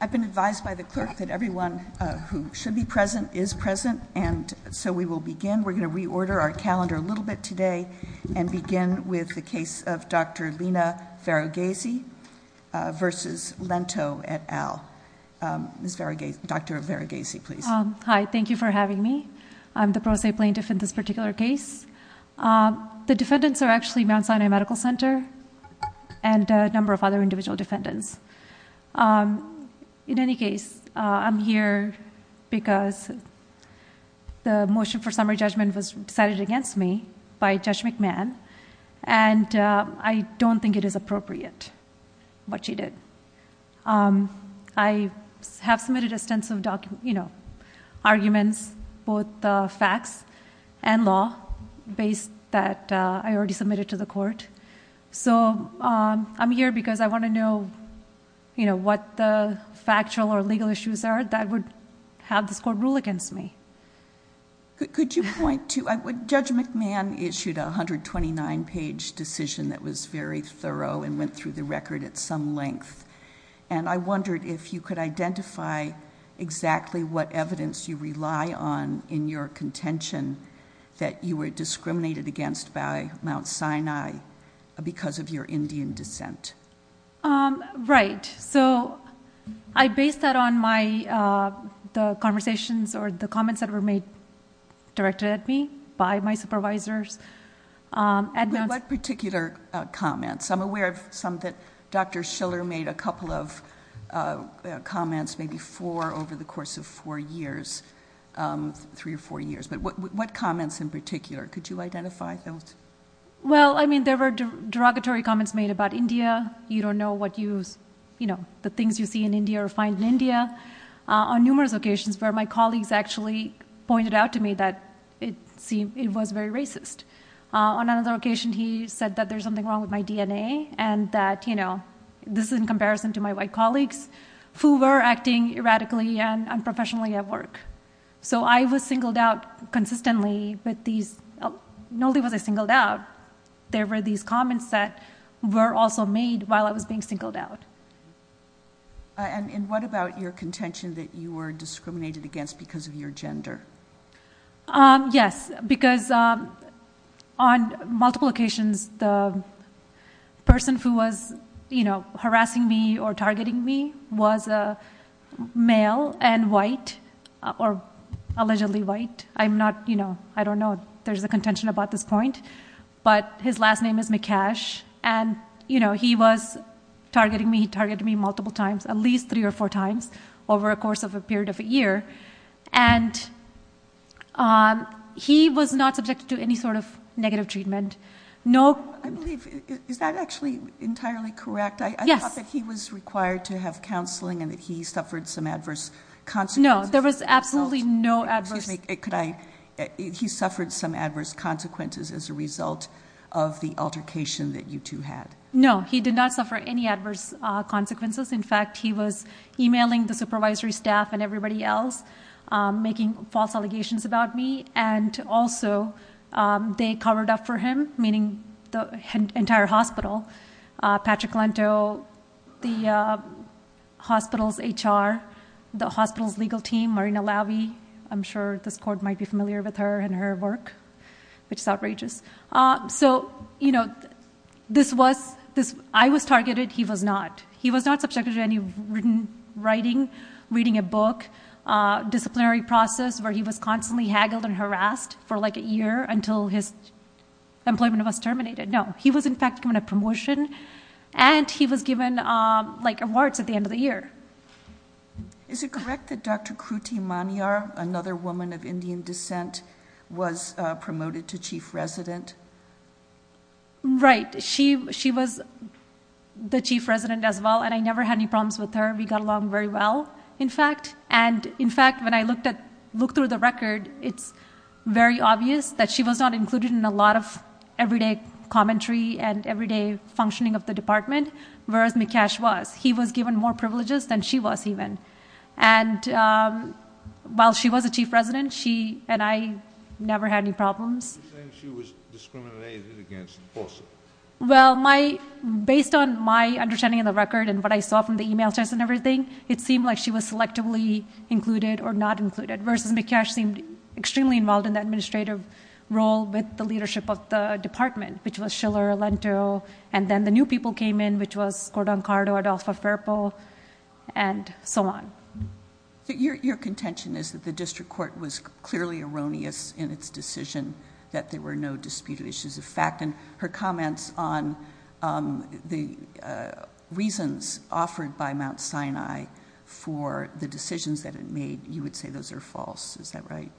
I've been advised by the clerk that everyone who should be present is present, and so we will begin. We're going to reorder our calendar a little bit today and begin with the case of Dr. Lina Varughese v. Lento et al. Dr. Varughese, please. Hi. Thank you for having me. I'm the pro se plaintiff in this particular case. The defendants are actually Mount Sinai Medical Center and a number of other individual defendants. In any case, I'm here because the motion for summary judgment was decided against me by Judge McMahon, and I don't think it is appropriate what she did. I have submitted extensive arguments, both facts and law, based that I already submitted to the court. So I'm here because I want to know what the factual or legal issues are that would have this court rule against me. Could you point to – Judge McMahon issued a 129-page decision that was very thorough and went through the record at some length, and I wondered if you could identify exactly what evidence you rely on in your contention that you were discriminated against by Mount Sinai because of your Indian descent. Right. So I based that on the conversations or the comments that were made directed at me by my supervisors. What particular comments? I'm aware of some that Dr. Schiller made a couple of comments, maybe four over the course of four years, three or four years. But what comments in particular? Could you identify those? Well, I mean, there were derogatory comments made about India. You don't know what you – you know, the things you see in India or find in India. On numerous occasions where my colleagues actually pointed out to me that it was very racist. On another occasion, he said that there's something wrong with my DNA and that, you know, this is in comparison to my white colleagues who were acting erratically and unprofessionally at work. So I was singled out consistently with these – not only was I singled out, there were these comments that were also made while I was being singled out. And what about your contention that you were discriminated against because of your gender? Yes, because on multiple occasions, the person who was, you know, harassing me or targeting me was a male and white or allegedly white. I'm not – you know, I don't know. There's a contention about this point. But his last name is Mikesh, and, you know, he was targeting me. He targeted me multiple times, at least three or four times over a course of a period of a year. And he was not subjected to any sort of negative treatment. No – Yes. I thought that he was required to have counseling and that he suffered some adverse consequences. No, there was absolutely no adverse – Excuse me, could I – he suffered some adverse consequences as a result of the altercation that you two had. No, he did not suffer any adverse consequences. In fact, he was emailing the supervisory staff and everybody else, making false allegations about me. And also, they covered up for him, meaning the entire hospital. Patrick Lento, the hospital's HR, the hospital's legal team, Marina Lavi. I'm sure this court might be familiar with her and her work, which is outrageous. So, you know, this was – I was targeted. He was not. He was not subjected to any written writing, reading a book, disciplinary process, where he was constantly haggled and harassed for, like, a year until his employment was terminated. No, he was, in fact, given a promotion, and he was given, like, awards at the end of the year. Is it correct that Dr. Kruti Maniyar, another woman of Indian descent, was promoted to chief resident? Right. She was the chief resident as well, and I never had any problems with her. We got along very well, in fact. And, in fact, when I looked through the record, it's very obvious that she was not included in a lot of everyday commentary and everyday functioning of the department, whereas Mikesh was. He was given more privileges than she was, even. And while she was the chief resident, she and I never had any problems. You're saying she was discriminated against, also. Well, based on my understanding of the record and what I saw from the e-mails and everything, it seemed like she was selectively included or not included, whereas Mikesh seemed extremely involved in the administrative role with the leadership of the department, which was Schiller, Lento, and then the new people came in, which was Cordon Cardo, Adolfo Ferpo, and so on. Your contention is that the district court was clearly erroneous in its decision, that there were no disputed issues of fact, and her comments on the reasons offered by Mount Sinai for the decisions that it made, you would say those are false, is that right?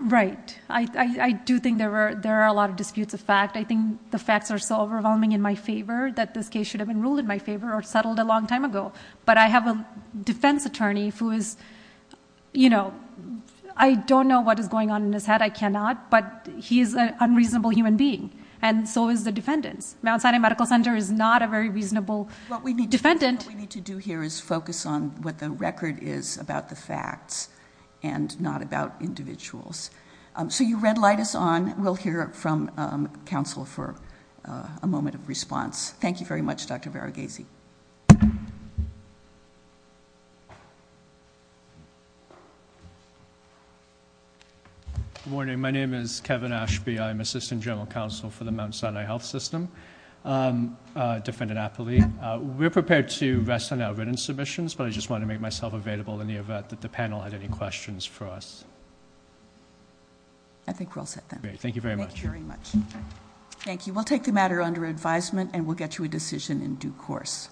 Right. I do think there are a lot of disputes of fact. I think the facts are so overwhelming in my favor, that this case should have been ruled in my favor or settled a long time ago. But I have a defense attorney who is... I don't know what is going on in his head, I cannot, but he is an unreasonable human being, and so is the defendant. Mount Sinai Medical Center is not a very reasonable defendant. What we need to do here is focus on what the record is about the facts and not about individuals. So you red light us on. We'll hear from counsel for a moment of response. Thank you very much, Dr. Varughese. Good morning. My name is Kevin Ashby. I'm Assistant General Counsel for the Mount Sinai Health System, Defendant Apley. We're prepared to rest on our written submissions, but I just wanted to make myself available in the event that the panel had any questions for us. I think we're all set then. Great. Thank you very much. Thank you very much. Thank you. We'll take the matter under advisement, and we'll get you a decision in due course.